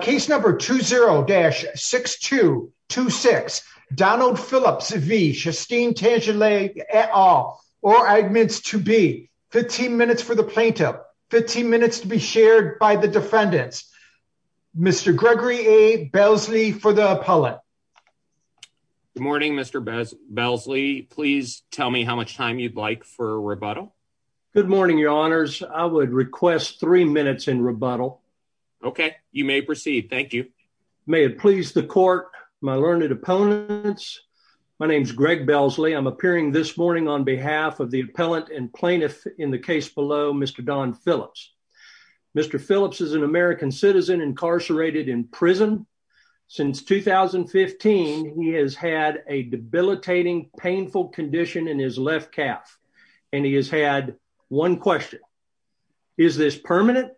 Case number 20-6226, Donald Phillips v. Shastine Tangilag et al, or admins to be. 15 minutes for the plaintiff. 15 minutes to be shared by the defendants. Mr. Gregory A. Belsley for the appellate. Good morning, Mr. Belsley. Please tell me how much time you'd like for rebuttal. Good morning, your honors. I would request three minutes in rebuttal. Okay, you may proceed. Thank you. May it please the court, my learned opponents, my name is Greg Belsley. I'm appearing this morning on behalf of the appellant and plaintiff in the case below, Mr. Don Phillips. Mr. Phillips is an American citizen incarcerated in prison. Since 2015, he has had a debilitating, painful condition in his left calf, and he has had one question. Is this permanent?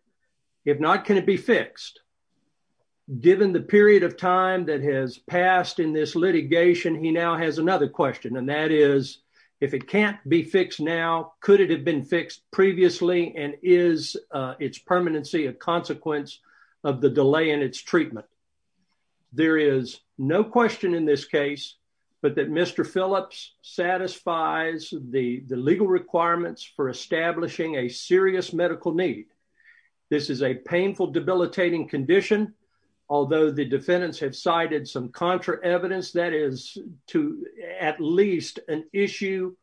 If not, can it be fixed? Given the period of time that has passed in this litigation, he now has another question, and that is, if it can't be fixed now, could it have been fixed previously? And is its permanency a consequence of the delay in its treatment? There is no question in this case, but that Mr. Phillips satisfies the legal requirements for establishing a serious medical need. This is a painful, debilitating condition, although the defendants have cited some contra evidence that is to at least an issue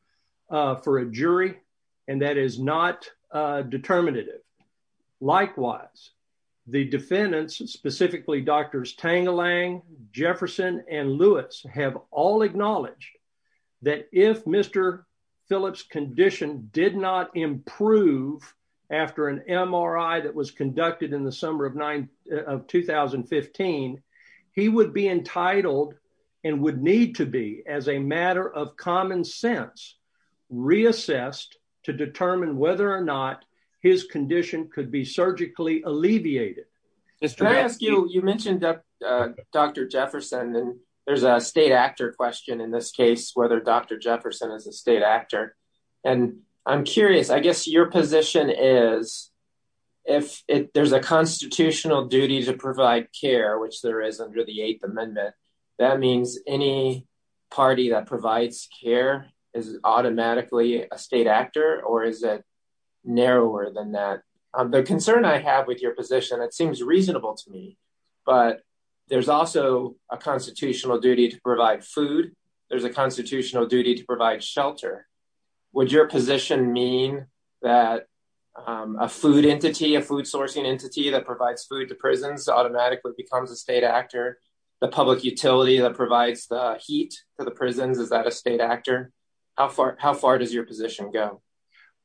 for a jury, and that is not determinative. Likewise, the defendants, specifically Drs. Tangelang, Jefferson, and Lewis have all acknowledged that if Mr. Phillips' condition did not improve after an MRI that was conducted in the summer of 2015, he would be entitled and would need to be, as a matter of common sense, reassessed to determine whether or not his condition could be surgically alleviated. Can I ask you, you mentioned Dr. Jefferson, and there's a state actor question in this case, whether Dr. Jefferson is a state actor, and I'm curious, I guess your position is, if there's a constitutional duty to provide care, which there is under the Eighth Amendment, that means any party that provides care is automatically a state actor, or is it narrower than that? The concern I have with your position, it seems reasonable to me, but there's also a constitutional duty to provide food, there's a constitutional duty to provide shelter. Would your position mean that a food entity, a food sourcing entity that provides food to prisons automatically becomes a state actor? The public utility that provides the heat for the prisons, is that a state actor? How far does your position go?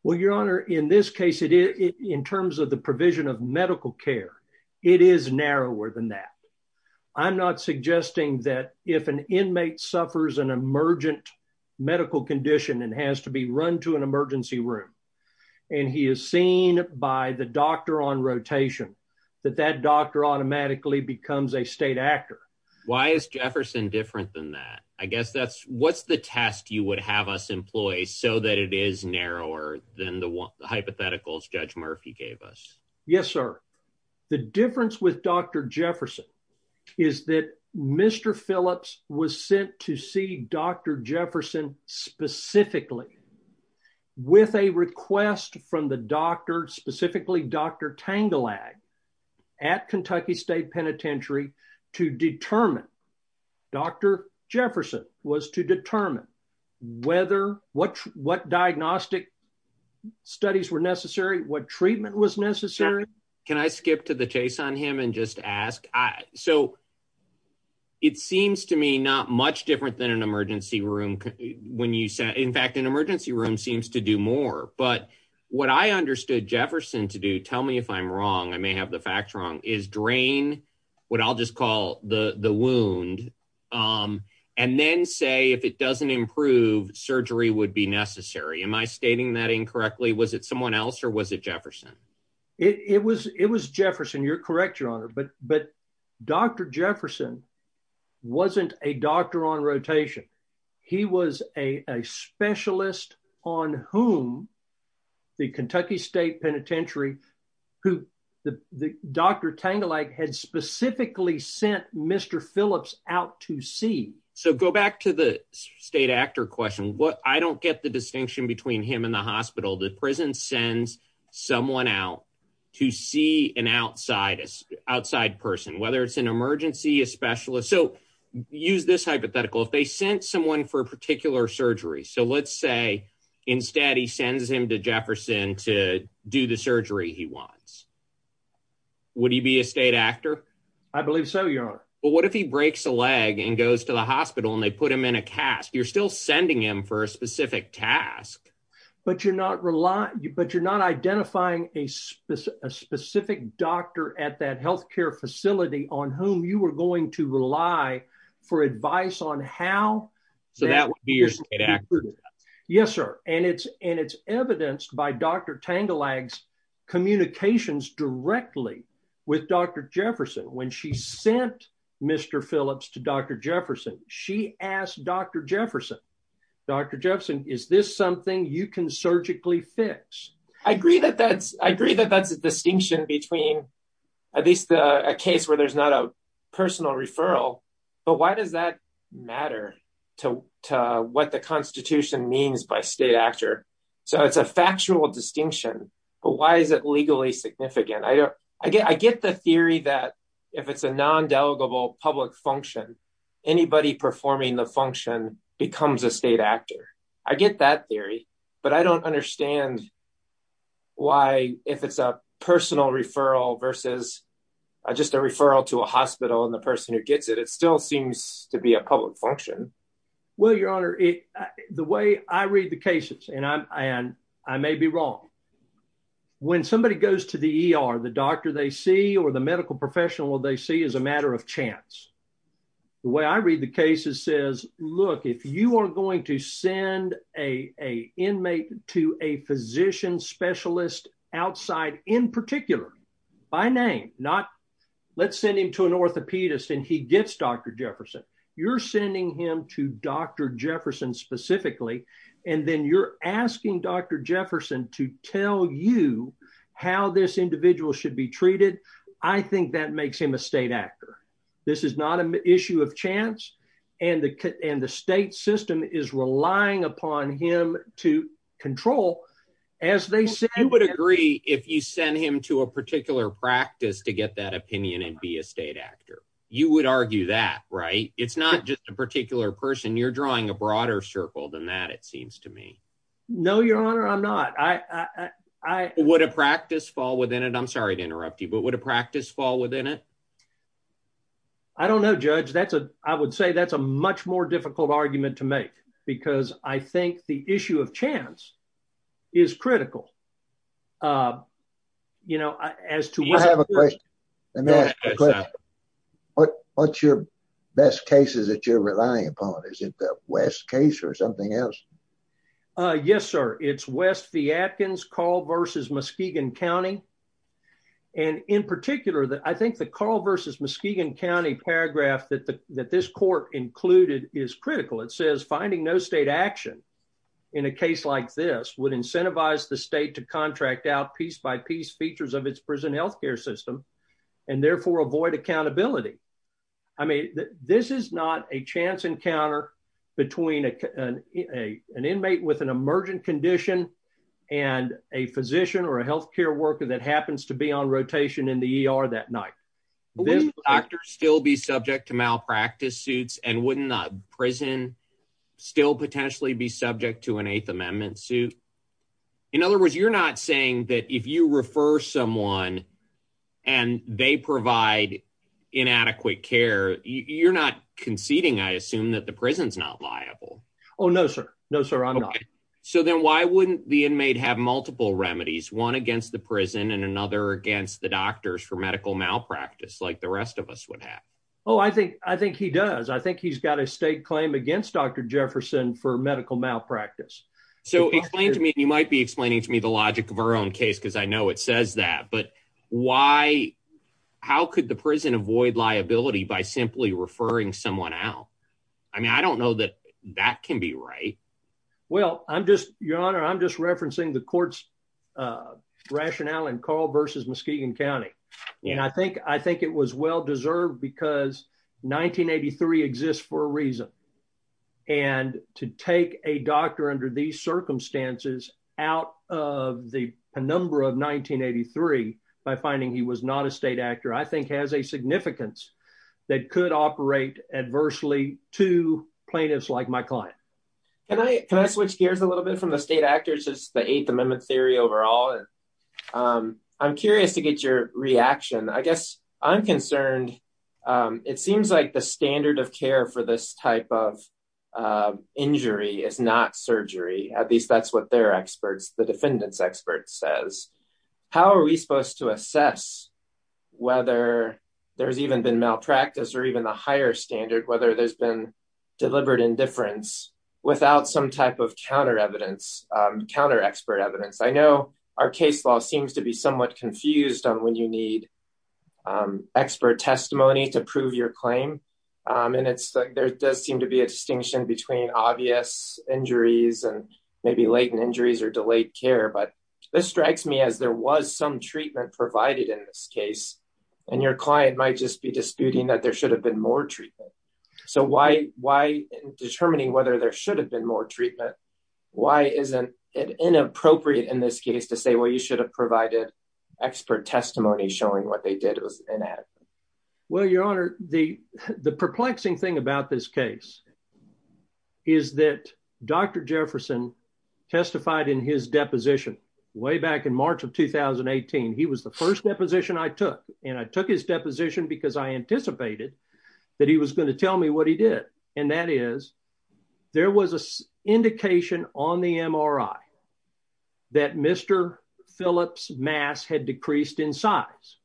Well, your honor, in this case, in terms of the provision of medical care, it is narrower than that. I'm not suggesting that if an inmate suffers an emergent medical condition and has to be run to an emergency room, and he is seen by the doctor on rotation, that that doctor automatically becomes a state actor. Why is Jefferson different than that? I guess that's, what's the test you would have us employ so that it is narrower than the hypotheticals Judge Murphy gave us? Yes, sir. The difference with Dr. Jefferson is that Mr. Phillips was sent to see Dr. Jefferson specifically with a request from the doctor, specifically Dr. Tangelag, at Kentucky State Penitentiary to determine, Dr. Jefferson was to determine whether, what diagnostic studies were necessary, what treatment was necessary. Can I skip to the chase on him and just ask? So, it seems to me not much different than an emergency room when you say, in fact, an emergency room seems to do more, but what I understood Jefferson to do, tell me if I'm wrong, I may have the facts wrong, is drain what I'll just call the wound and then say if it doesn't improve, surgery would be necessary. Am I stating that incorrectly? Was it someone else or was it Jefferson? It was Jefferson. You're correct, your honor, but Dr. Jefferson wasn't a doctor on rotation. He was a specialist on whom the Kentucky State Penitentiary, who Dr. Tangelag had specifically sent Mr. Phillips out to see. So, go back to the state actor question. I don't get the distinction between him and the hospital. The prison sends someone out to see an outside person, whether it's an emergency, a specialist. So, use this hypothetical. If they sent someone for a particular surgery, so let's say instead he sends him to Jefferson to do the surgery he wants, would he be a state actor? I believe so, your honor. But what if he breaks a leg and goes to the hospital and they put him in a cast? You're still sending him for a specific task. But you're not identifying a specific doctor at that health care facility on whom you were going to rely for advice on how. So, that would be your state actor? Yes, sir, and it's evidenced by Dr. Tangelag's communications directly with Dr. Jefferson. When she sent Mr. Phillips to Dr. Jefferson, she asked Dr. Jefferson, Dr. Jefferson, is this something you can surgically fix? I agree that that's a distinction between at least a case where there's not a personal referral, but why does that matter to what the constitution means by state actor? So, it's a factual distinction, but why is it legally significant? I get the theory that if it's a performing the function becomes a state actor. I get that theory, but I don't understand why if it's a personal referral versus just a referral to a hospital and the person who gets it, it still seems to be a public function. Well, your honor, the way I read the cases, and I may be wrong, when somebody goes to the ER, the doctor they see or the medical professional they see is a matter of chance. The way I read the cases says, look, if you are going to send an inmate to a physician specialist outside, in particular, by name, not let's send him to an orthopedist and he gets Dr. Jefferson. You're sending him to Dr. Jefferson specifically, and then you're asking Dr. Jefferson to tell you how this individual should be treated. I think that makes him a state actor. This is not an issue of chance, and the state system is relying upon him to control. You would agree if you send him to a particular practice to get that opinion and be a state actor. You would argue that, right? It's not just a particular person. You're drawing a broader circle than that, it seems to me. No, your honor, I'm not. Would a practice fall within it? I'm sorry to interrupt you, but would a practice fall within it? I don't know, Judge. I would say that's a much more difficult argument to make, because I think the issue of chance is critical, you know. I have a question. What's your best case that you're relying upon? Is it the West case or something else? Yes, sir. It's West v. Atkins, Carl v. Muskegon County. In particular, I think the Carl v. Muskegon County paragraph that this court included is critical. It says, finding no state action in a case like this would incentivize the state to contract out piece-by-piece features of its prison health care system and therefore avoid accountability. I mean, this is not a chance encounter between an inmate with an emergent condition and a physician or a health care worker that happens to be on rotation in the ER that night. Would a doctor still be subject to malpractice suits, and wouldn't a prison still potentially be subject to an Eighth Amendment suit? In other words, you're not saying that if you refer someone and they provide inadequate care, you're not conceding, I assume, that the prison's not liable. Oh, no, sir. No, sir, I'm not. Okay. So then why wouldn't the inmate have multiple remedies, one against the prison and another against the doctors for medical malpractice, like the rest of us would have? Oh, I think he does. I think he's got a state claim against Dr. Jefferson for medical malpractice. So explain to me, you might be explaining to me the logic of our own but how could the prison avoid liability by simply referring someone out? I mean, I don't know that that can be right. Well, Your Honor, I'm just referencing the court's rationale in Carl v. Muskegon County. And I think it was well-deserved because 1983 exists for a reason. And to take a doctor under these circumstances, out of the penumbra of 1983, by finding he was not a state actor, I think has a significance that could operate adversely to plaintiffs like my client. Can I switch gears a little bit from the state actors? It's the Eighth Amendment theory overall. I'm curious to get your reaction. I guess I'm concerned. It seems like the standard of care for this type of injury is not surgery. At least that's what their experts, the defendants experts says. How are we supposed to assess whether there's even been malpractice or even the higher standard, whether there's been delivered indifference without some type of counter-expert evidence? I know our case law seems to be somewhat confused on when you need expert testimony to prove your injuries and maybe latent injuries or delayed care. But this strikes me as there was some treatment provided in this case. And your client might just be disputing that there should have been more treatment. So why in determining whether there should have been more treatment, why isn't it inappropriate in this case to say, well, you should have provided expert testimony showing what they did was inadequate? Well, Your Honor, the perplexing thing about this case is that Dr. Jefferson testified in his deposition way back in March of 2018. He was the first deposition I took. And I took his deposition because I anticipated that he was going to tell me what he did. And that is there was an indication on the MRI that Mr. Phillips' mass had decreased in size.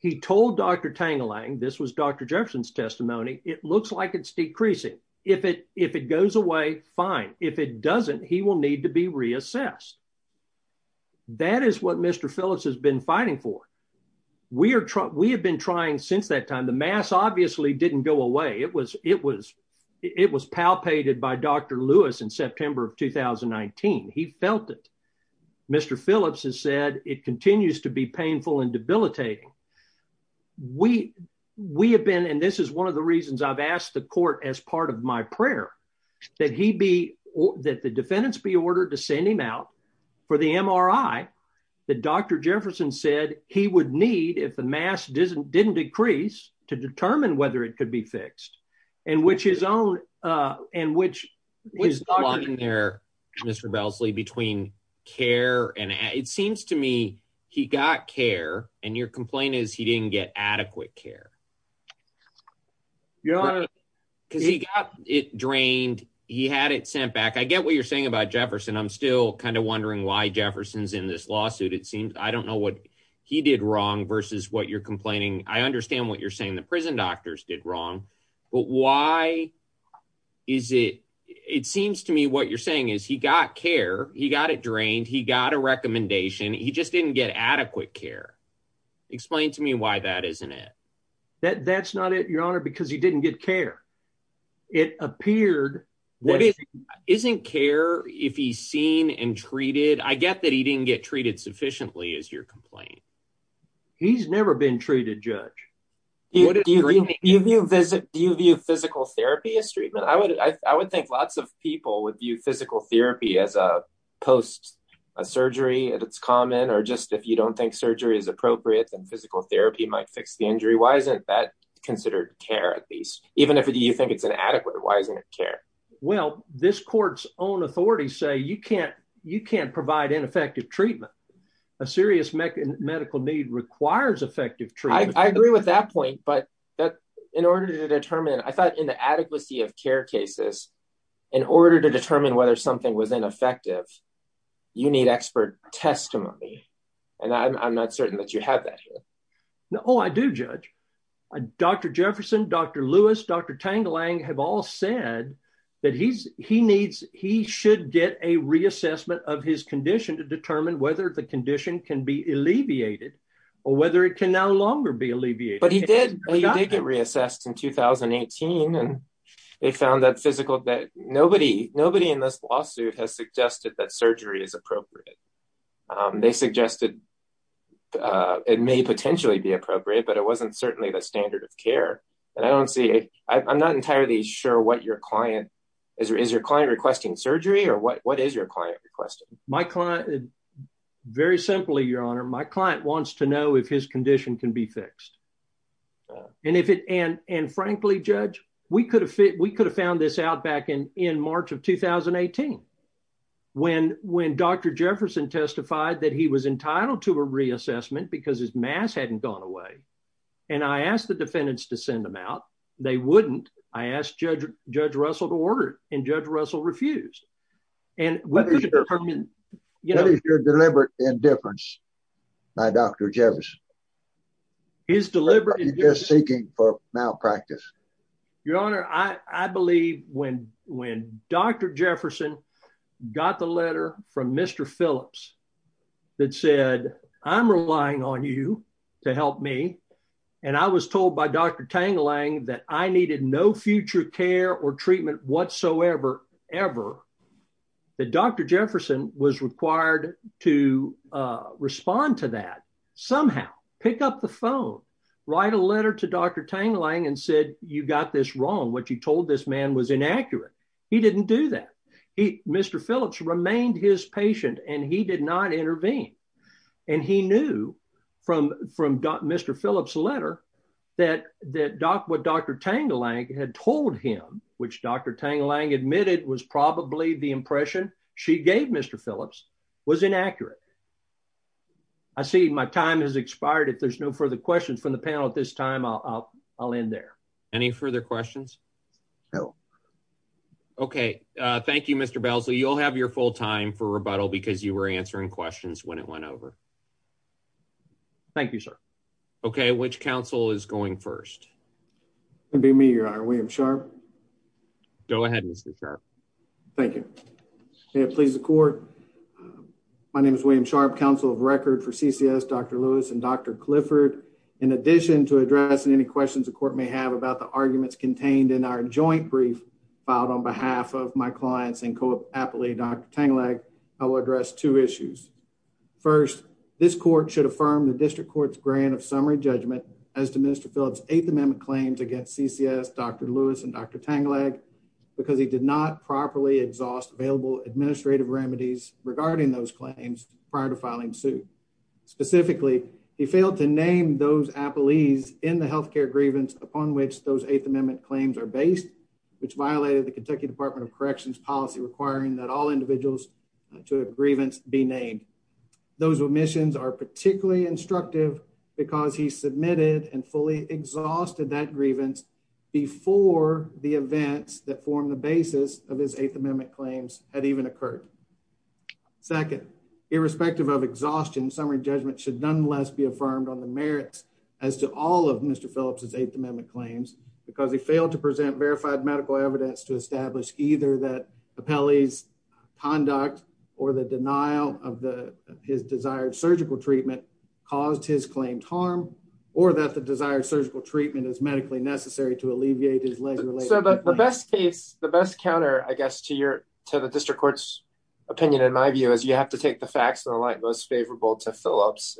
He told Dr. Tangelang, this was Dr. Jefferson's testimony. It looks like it's decreasing. If it goes away, fine. If it doesn't, he will need to be reassessed. That is what Mr. Phillips has been fighting for. We have been trying since that time. The mass obviously didn't go away. It was palpated by Dr. Lewis in September of 2019. He felt it. Mr. Phillips has said it continues to be painful and debilitating. We have been, and this is one of the reasons I've asked the court as part of my prayer, that the defendants be ordered to send him out for the MRI that Dr. Jefferson said he would need if the mass didn't decrease to determine whether it could be fixed. And which his own, and which is there, Mr. Belsley, between care and it seems to me he got care and your complaint is he didn't get adequate care. Yeah. Because he got it drained. He had it sent back. I get what you're saying about Jefferson. I'm still kind of wondering why Jefferson's in this lawsuit. It seems, I don't know what he did wrong versus what you're complaining. I understand what you're the prison doctors did wrong, but why is it, it seems to me what you're saying is he got care. He got it drained. He got a recommendation. He just didn't get adequate care. Explain to me why that isn't it. That's not it, your honor, because he didn't get care. It appeared. Isn't care if he's seen and treated, I get that he didn't get treated sufficiently as your complaint. He's never been treated, judge. Do you view physical therapy as treatment? I would think lots of people would view physical therapy as a post-surgery and it's common or just if you don't think surgery is appropriate, then physical therapy might fix the injury. Why isn't that considered care at least? Even if you think it's inadequate, why isn't it care? Well, this court's authorities say you can't provide ineffective treatment. A serious medical need requires effective treatment. I agree with that point, but in order to determine, I thought in the adequacy of care cases, in order to determine whether something was ineffective, you need expert testimony and I'm not certain that you have that here. No, I do, judge. Dr. Jefferson, Dr. Lewis, Dr. Tangalang have all said that he should get a reassessment of his condition to determine whether the condition can be alleviated or whether it can no longer be alleviated. But he did get reassessed in 2018 and they found that nobody in this lawsuit has suggested that surgery is appropriate. They suggested it may potentially be appropriate, but it wasn't certainly the standard of care and I don't see, I'm not entirely sure what your client, is your client requesting surgery or what is your client requesting? My client, very simply, your honor, my client wants to know if his condition can be fixed and frankly, judge, we could have found this out back in March of 2018 when Dr. Jefferson testified that he was entitled to a reassessment because his mass hadn't gone away and I asked the defendants to send him out. They wouldn't. I asked Judge Russell to order it and Judge Russell refused. What is your deliberate indifference by Dr. Jefferson? He's deliberate. He's just seeking for malpractice. Your honor, I believe when Dr. Jefferson got the letter from Mr. Phillips that said, I'm relying on you to help me and I was told by Dr. Tangelang that I needed no future care or treatment whatsoever, ever, that Dr. Jefferson was required to respond to that somehow. Pick up the phone, write a letter to Dr. Tangelang and said, you got this wrong. What you told this man was inaccurate. He didn't do that. Mr. Phillips remained his patient and he did not intervene and he knew from Mr. Phillips letter that what Dr. Tangelang had told him, which Dr. Tangelang admitted was probably the impression she gave Mr. Phillips, was inaccurate. I see my time has I'll end there. Any further questions? No. Okay. Uh, thank you, Mr. Bell. So you'll have your full time for rebuttal because you were answering questions when it went over. Thank you, sir. Okay. Which council is going first? It'd be me, your honor, William Sharp. Go ahead, Mr. Sharp. Thank you. May it please the court. My name is William Sharp, council of record for CCS, Dr. Lewis and Dr Clifford. In addition to addressing any questions the court may have about the arguments contained in our joint brief filed on behalf of my clients and co happily Dr. Tangelang, I will address two issues. First, this court should affirm the district court's grant of summary judgment as to Mr. Phillips eighth amendment claims against CCS, Dr. Lewis and Dr. Tangelang because he did not properly exhaust available administrative remedies regarding those claims prior to filing suit. Specifically, he failed to name those appellees in the health care grievance upon which those eighth amendment claims are based, which violated the Kentucky Department of Corrections policy requiring that all individuals to a grievance be named. Those omissions are particularly instructive because he submitted and fully exhausted that grievance before the events that formed the basis of his eighth Second, irrespective of exhaustion, summary judgment should nonetheless be affirmed on the merits as to all of Mr. Phillips's eighth amendment claims because he failed to present verified medical evidence to establish either that appellees conduct or the denial of the his desired surgical treatment caused his claimed harm or that the desired surgical treatment is medically necessary to alleviate his legs. So the best case, the best counter, I guess, to your to the district court's opinion, in my view, is you have to take the facts in the light most favorable to Phillips.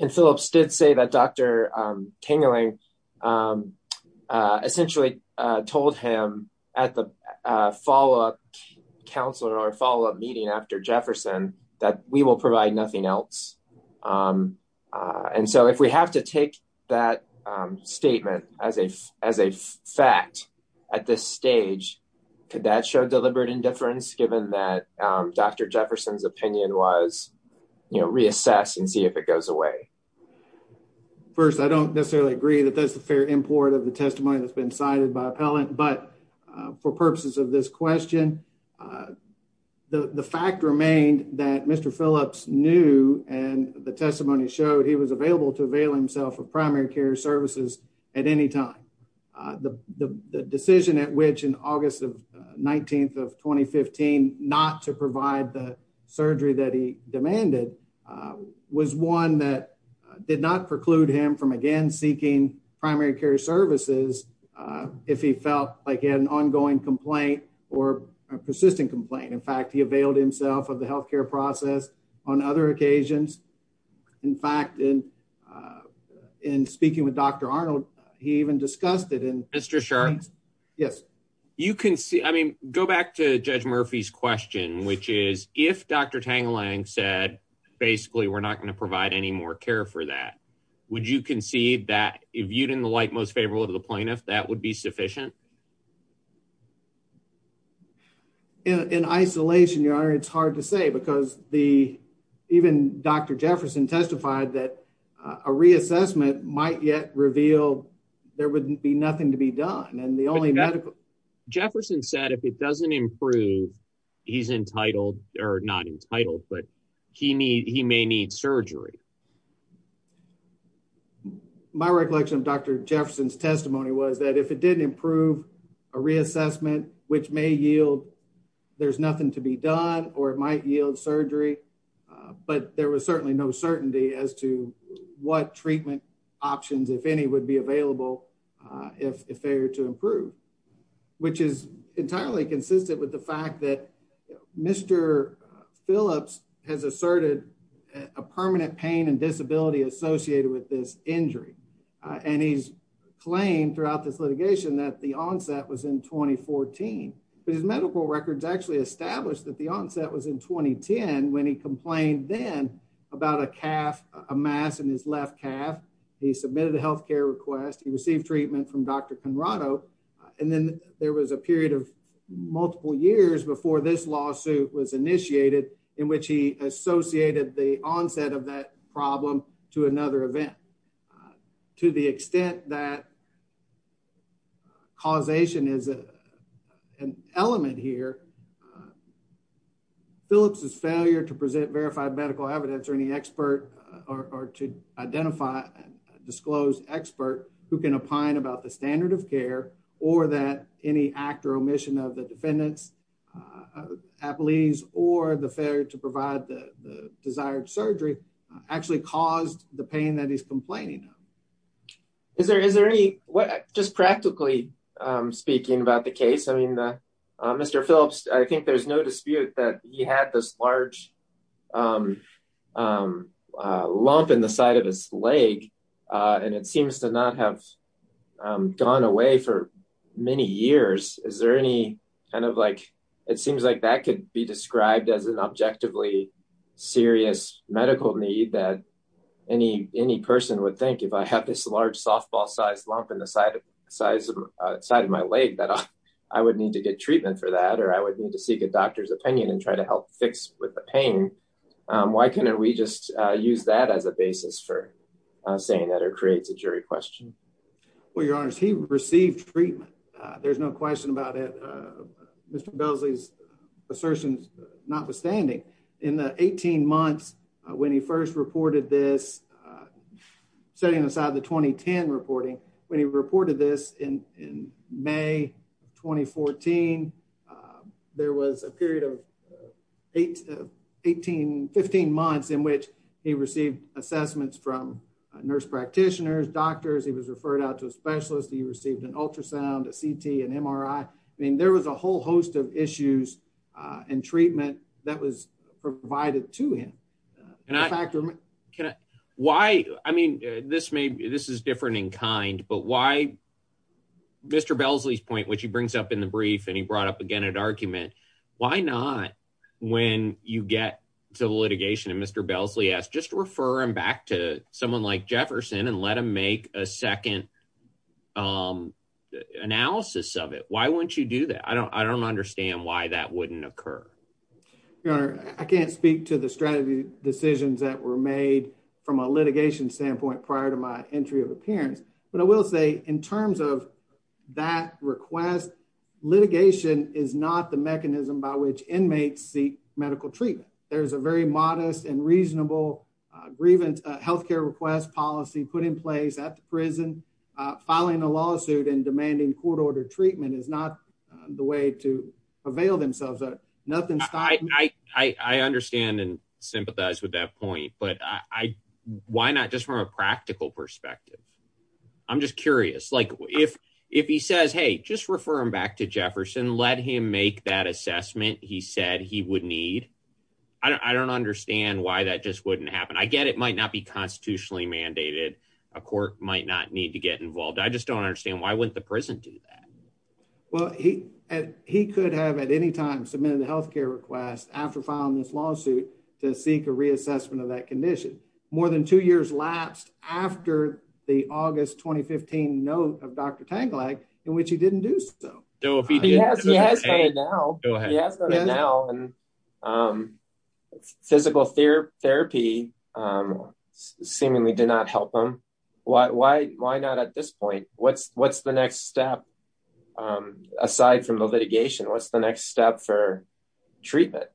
And Phillips did say that Dr. Tangelang essentially told him at the follow-up council or follow-up meeting after Jefferson that we will provide nothing else. And so if we have to take that statement as a as a fact at this stage, could that show deliberate indifference given that Dr. Jefferson's opinion was, you know, reassess and see if it goes away? First, I don't necessarily agree that that's the fair import of the testimony that's been cited by appellant. But for purposes of this question, the fact remained that Mr. Phillips knew and the testimony showed he was available to avail himself of primary care services at any time. The decision at which in August of 19th of 2015 not to provide the surgery that he demanded was one that did not preclude him from again seeking primary care services if he felt like he had an ongoing complaint or a persistent complaint. In fact, he availed himself of the he even discussed it in Mr. Sharp. Yes, you can see. I mean, go back to Judge Murphy's question, which is if Dr. Tangelang said, basically, we're not going to provide any more care for that. Would you concede that if you didn't like most favorable to the plaintiff that would be sufficient in isolation? You are. It's hard to say because the even Dr. Jefferson testified that a reassessment might yet reveal there would be nothing to be done. And the only medical Jefferson said, if it doesn't improve, he's entitled or not entitled, but he may need surgery. My recollection of Dr. Jefferson's testimony was that if it didn't improve a reassessment, which may yield, there's nothing to be done or it might yield surgery. But there was certainly no certainty as to what treatment options, if any, would be available if they were to improve, which is entirely consistent with the fact that Mr. Phillips has asserted a permanent pain and disability associated with this injury. And he's claimed throughout this litigation that the onset was in twenty fourteen. His medical records actually establish that the onset was in twenty ten when he complained then about a calf, a mass in his left calf. He submitted a health care request. He received treatment from Dr. Conrado. And then there was a period of multiple years before this lawsuit was initiated in which he associated the an element here. Phillips's failure to present verified medical evidence or any expert or to identify a disclosed expert who can opine about the standard of care or that any act or omission of the defendant's appellees or the failure to provide the desired surgery actually caused the pain that he's complaining. Is there is there any just practically speaking about the case? I mean, Mr. Phillips, I think there's no dispute that you had this large lump in the side of his leg and it seems to not have gone away for many years. Is there any kind of like it seems like that could be described as an objectively serious medical need that any any person would think if I have this large softball sized lump in the side of size side of my leg that I would need to get treatment for that or I would need to seek a doctor's opinion and try to help fix with the pain. Why can't we just use that as a basis for saying that it creates a jury question? Well, your honors, he received treatment. There's no question about it. Mr. Beasley's assertions notwithstanding in the 18 months when he first reported this, setting aside the 2010 reporting, when he reported this in May 2014, there was a period of 18, 15 months in which he received assessments from nurse practitioners, doctors, he was referred out to a specialist, he received an ultrasound, a CT, an MRI. I mean, there was a Can I? Why? I mean, this may be this is different in kind, but why? Mr. Beasley's point, which he brings up in the brief, and he brought up again, an argument. Why not? When you get to litigation, and Mr. Beasley asked, just refer him back to someone like Jefferson and let him make a second analysis of it. Why wouldn't you do that? I don't I don't understand why that wouldn't occur. Your honor, I can't speak to the strategy decisions that were made from a litigation standpoint prior to my entry of appearance. But I will say in terms of that request, litigation is not the mechanism by which inmates seek medical treatment. There's a very modest and reasonable grievance health care request policy put in place at the prison. Filing a I understand and sympathize with that point. But I why not just from a practical perspective? I'm just curious. Like if, if he says, hey, just refer him back to Jefferson, let him make that assessment. He said he would need. I don't understand why that just wouldn't happen. I get it might not be constitutionally mandated. A court might not need to get involved. I just don't understand why wouldn't the prison do that? Well, he, he could have at any time submitted a health care request after filing this lawsuit to seek a reassessment of that condition. More than two years lapsed after the August 2015 note of Dr. Tangelag, in which he didn't do so. He has done it now. He has done it now. Physical therapy seemingly did not help him. Why, why, why not at this point? What's, what's the next step aside from the litigation? What's the next step for treatment?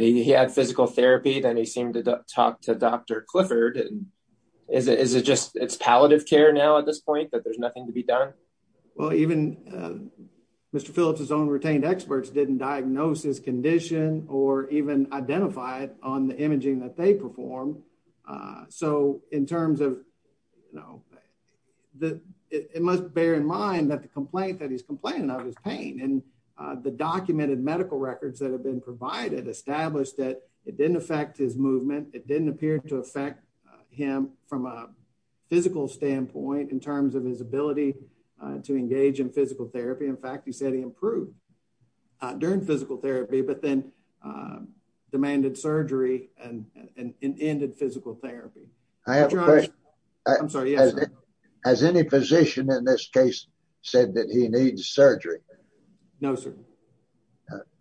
He had physical therapy, then he seemed to talk to Dr. Clifford. Is it just it's palliative care now at this point that there's nothing to be done? Well, even Mr. Phillips, his own retained experts didn't diagnose his condition or even identified on the imaging that they perform. So in terms of, you know, the, it must bear in mind that the complaint that he's complaining of his pain and the documented medical records that have been provided established that it didn't affect his movement. It didn't appear to affect him from a physical standpoint in terms of his ability to engage in physical therapy. In fact, he said he improved during physical therapy, but then demanded surgery and ended physical therapy. I have a question. I'm sorry. Has any position in this case said that he needs surgery? No, sir.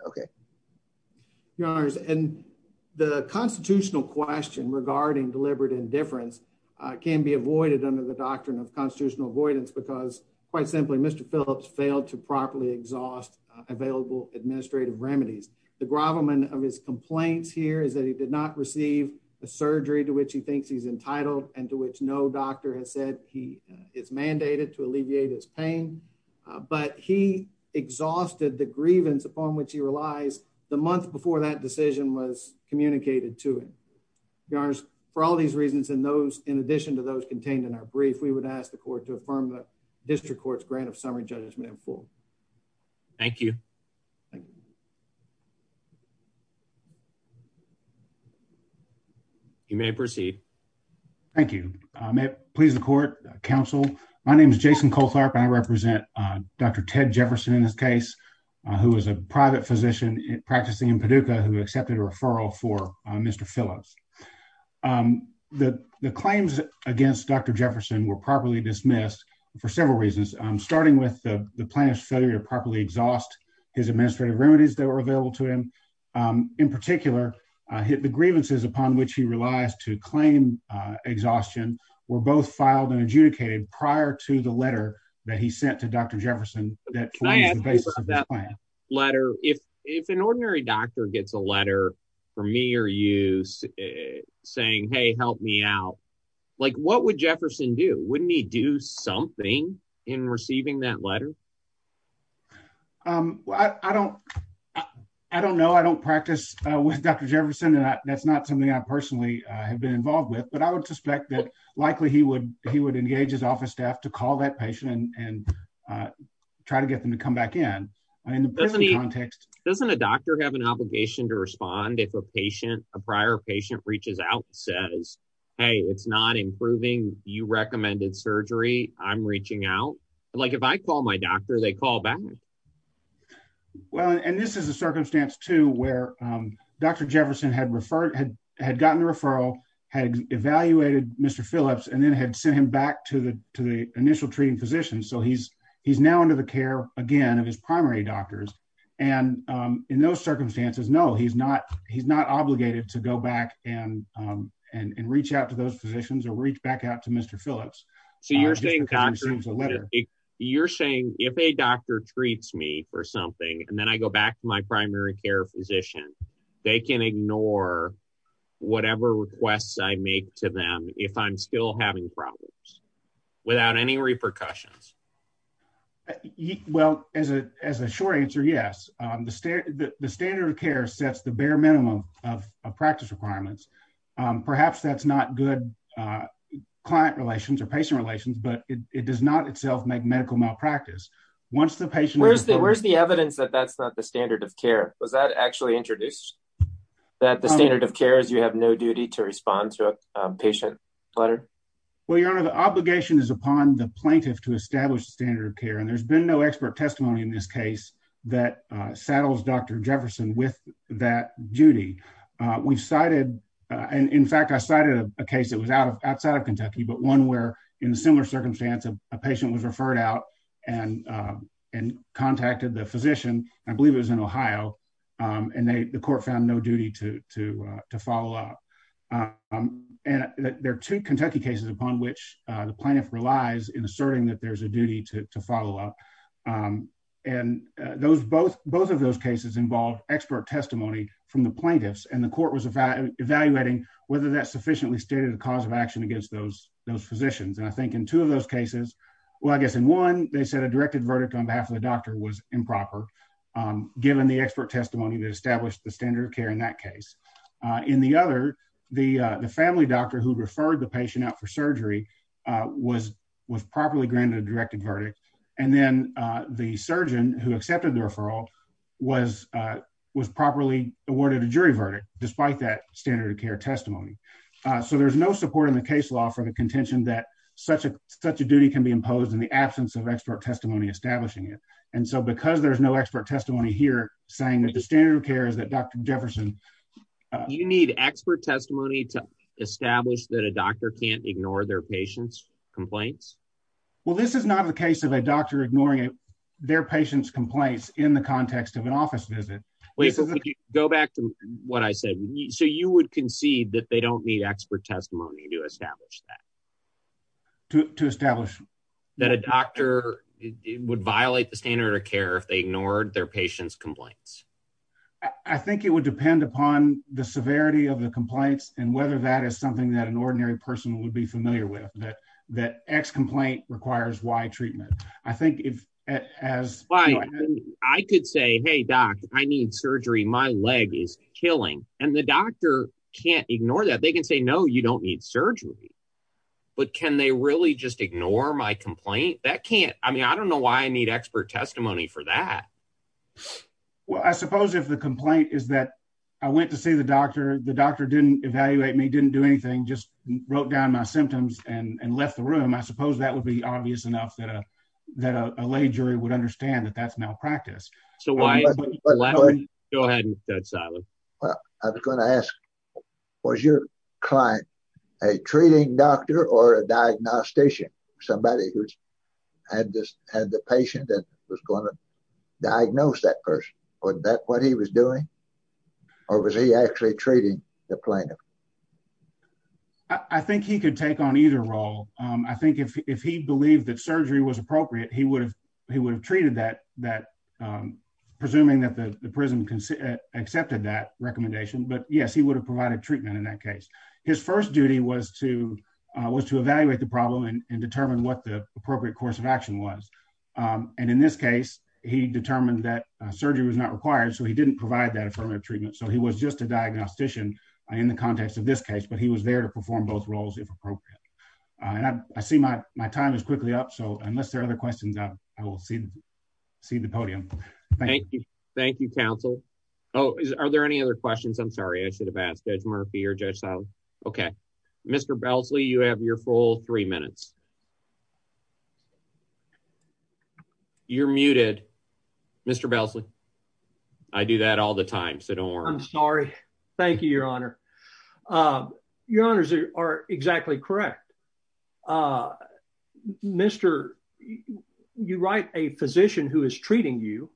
Okay. Your honors. And the constitutional question regarding deliberate indifference can be avoided under the doctrine of constitutional avoidance because quite simply, Mr. Phillips failed to his complaints here is that he did not receive a surgery to which he thinks he's entitled and to which no doctor has said he is mandated to alleviate his pain. But he exhausted the grievance upon which he relies the month before that decision was communicated to him. Your honors, for all these reasons, in those, in addition to those contained in our brief, we would ask the court to affirm the district court's grant of summary judgment in full. Thank you. You may proceed. Thank you. May it please the court counsel. My name is Jason Coltharp. I represent Dr. Ted Jefferson in this case, who was a private physician practicing in Paducah, who accepted a referral for Mr. Phillips. The claims against Dr. Jefferson were properly dismissed for several reasons, starting with the plaintiff's failure to properly exhaust his administrative remedies that were available to him. In particular, hit the grievances upon which he relies to claim. Exhaustion were both filed and adjudicated prior to the letter that he sent to Dr. Jefferson that letter if if an ordinary doctor gets a letter from me or you saying, Hey, help me out. Like what would Jefferson do? Wouldn't he do something in receiving that letter? I don't I don't know. I don't practice with Dr. Jefferson. And that's not something I personally have been involved with. But I would suspect that likely he would he would engage his office staff to call that patient and try to get them to come back in. I mean, doesn't a doctor have an obligation to respond if a patient a prior patient reaches out says, Hey, it's not improving. You recommended surgery. I'm reaching out. Like if I call my doctor, they call back. Well, and this is a circumstance to where Dr. Jefferson had referred had had gotten the referral, had evaluated Mr. Phillips and then had sent him back to the to the initial treating physician. So he's he's now under the care again of his primary doctors. And in those positions or reach back out to Mr. Phillips. So you're saying you're saying if a doctor treats me for something and then I go back to my primary care physician, they can ignore whatever requests I make to them if I'm still having problems without any repercussions? Well, as a as a short answer, yes. The standard of care sets the bare minimum of practice requirements. Perhaps that's not good client relations or patient relations, but it does not itself make medical malpractice once the patient. Where's the evidence that that's not the standard of care? Was that actually introduced that the standard of care is you have no duty to respond to a patient letter? Well, your honor, the obligation is upon the plaintiff to establish the standard of care. And there's been no expert testimony in this case that saddles Dr. Jefferson with that duty. We've cited and in fact, I cited a case that was out of outside of Kentucky, but one where in a similar circumstance, a patient was referred out and and contacted the physician. I believe it was in Ohio and the court found no duty to to to follow up. And there are two Kentucky cases upon which the plaintiff relies in asserting that there's a duty to to follow up. And those both both of those cases involve expert testimony from the plaintiffs and the court was evaluating whether that sufficiently stated the cause of action against those those physicians. And I think in two of those cases, well, I guess in one, they said a directed verdict on behalf of the doctor was improper, given the expert testimony that established the standard of care in that case. In the other, the the family doctor who referred the patient out for surgery was was properly granted a directed verdict. And then the surgeon who accepted the referral was was properly awarded a jury verdict despite that standard of care testimony. So there's no support in the case law for the contention that such a such a duty can be imposed in the absence of expert testimony establishing it. And so because there's no expert testimony here, saying that the standard of care is that Dr. Jefferson, you need expert testimony to establish that a doctor can't ignore their patients complaints. Well, this is not the case of a doctor ignoring their patients complaints in the context of an office visit. Go back to what I said. So you would concede that they don't need expert testimony to establish that to establish that a doctor would violate the standard of care if they ignored their patients complaints. I think it would depend upon the severity of the complaints and whether that is something that an ordinary person would be familiar with that, that x complaint requires y treatment. I think if as I could say, Hey, doc, I need surgery, my leg is killing and the doctor can't ignore that they can say no, you don't need surgery. But can they really just ignore my that can't I mean, I don't know why I need expert testimony for that. Well, I suppose if the complaint is that I went to see the doctor, the doctor didn't evaluate me didn't do anything just wrote down my symptoms and left the room. I suppose that would be obvious enough that a that a lay jury would understand that that's malpractice. So why? Go ahead. That's I just had the patient that was going to diagnose that person. Was that what he was doing? Or was he actually treating the plaintiff? I think he could take on either role. I think if he believed that surgery was appropriate, he would have he would have treated that that presuming that the prison can accepted that recommendation. But yes, he would have provided treatment in that case. His first duty was to was to evaluate the problem and determine what the appropriate course of action was. And in this case, he determined that surgery was not required. So he didn't provide that affirmative treatment. So he was just a diagnostician in the context of this case, but he was there to perform both roles if appropriate. And I see my my time is quickly up. So unless there are other questions, I will see, see the podium. Thank you. Thank you, counsel. Oh, are there any other questions? I'm sorry, I should have asked Murphy or just OK, Mr. Belsey, you have your full three minutes. You're muted, Mr. Belsey. I do that all the time, so don't worry. I'm sorry. Thank you, Your Honor. Your honors are exactly correct. Mr. You write a physician who is treating you.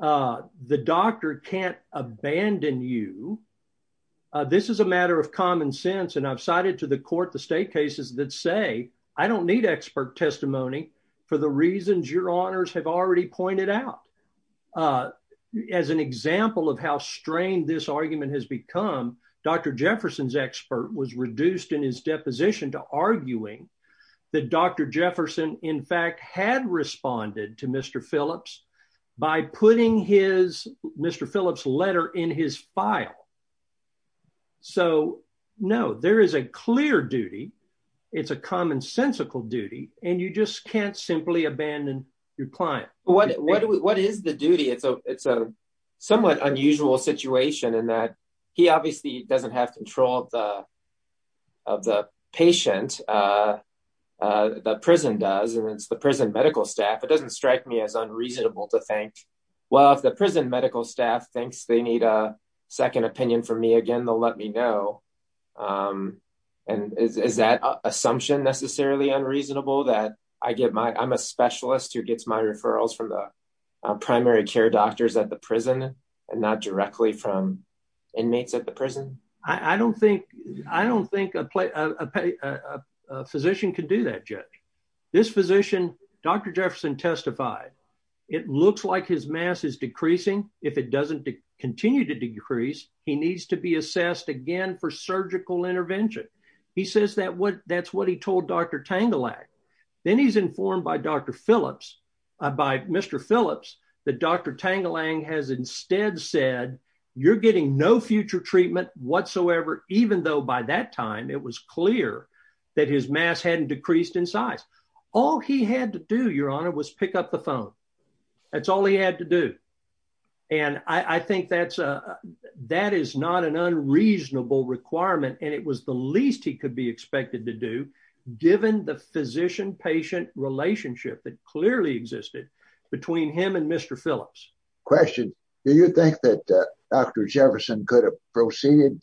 Uh, the doctor can't abandon you. This is a matter of common sense, and I've cited to the court the state cases that say I don't need expert testimony for the reasons your honors have already pointed out. As an example of how strained this argument has become, Dr. Jefferson's expert was reduced in his deposition to arguing that Dr. Jefferson, in fact, had responded to Mr. Phillips by putting his Mr. Phillips letter in his file. So, no, there is a clear duty. It's a commonsensical duty, and you just can't simply abandon your client. What what what is the duty? It's a it's a somewhat unusual situation in that he obviously doesn't have control of the of the patient. The prison does, and it's the prison medical staff. It doesn't strike me as unreasonable to think, well, if the prison medical staff thinks they need a second opinion from me again, they'll let me know. And is that assumption necessarily unreasonable that I get my I'm a specialist who gets my referrals from the and not directly from inmates at the prison? I don't think I don't think a physician can do that yet. This physician, Dr. Jefferson, testified it looks like his mass is decreasing. If it doesn't continue to decrease, he needs to be assessed again for surgical intervention. He says that what that's what he told Dr. Tangelak. Then he's informed by Dr. Phillips, by Mr. Phillips, that Dr. Tangelak has instead said, you're getting no future treatment whatsoever, even though by that time, it was clear that his mass hadn't decreased in size. All he had to do, Your Honor, was pick up the phone. That's all he had to do. And I think that's a that is not an unreasonable requirement. And it was the least he could be expected to do, given the physician patient relationship that clearly existed between him and Mr. Phillips. Question. Do you think that Dr. Jefferson could have proceeded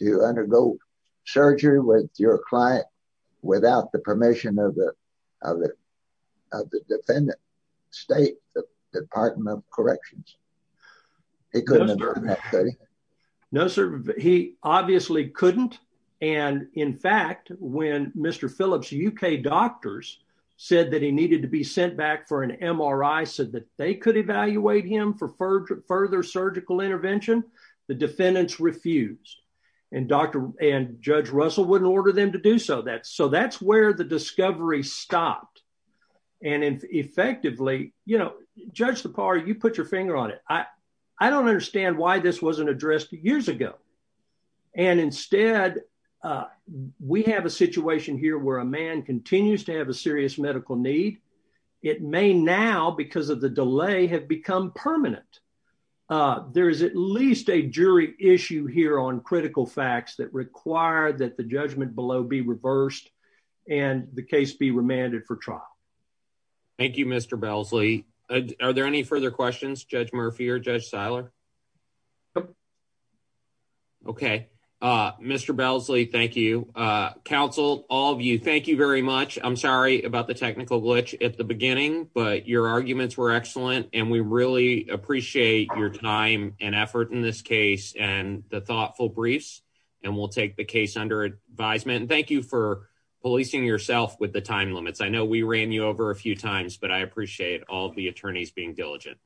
to undergo surgery with your client without the permission of the other of the defendant state Department of Corrections? It couldn't. No, sir. He obviously couldn't. And in fact, when Mr. Phillips UK doctors said that he needed to be sent back for an MRI said that they could evaluate him for further surgical intervention. The defendants refused. And Dr. and Judge Russell wouldn't order them to do so that so that's where the discovery stopped. And effectively, you know, Judge the par you put your finger on it. I, I don't understand why this wasn't addressed years ago. And instead, we have a situation here where a man continues to have a serious medical need. It may now because of the delay have become permanent. There is at least a jury issue here on critical facts that require that the judgment below be reversed, and the case be remanded for trial. Thank you, Mr. Belsley. Are there any further questions? Judge Murphy or Judge Seiler? Okay, Mr. Belsley. Thank you. Council all of you. Thank you very much. I'm sorry about the technical glitch at the beginning, but your arguments were excellent. And we really appreciate your time and effort in this case and the thoughtful briefs. And we'll take the case under advisement. Thank you for policing yourself with the time limits. I know we ran you over a few times, but I appreciate all the attorneys being diligent.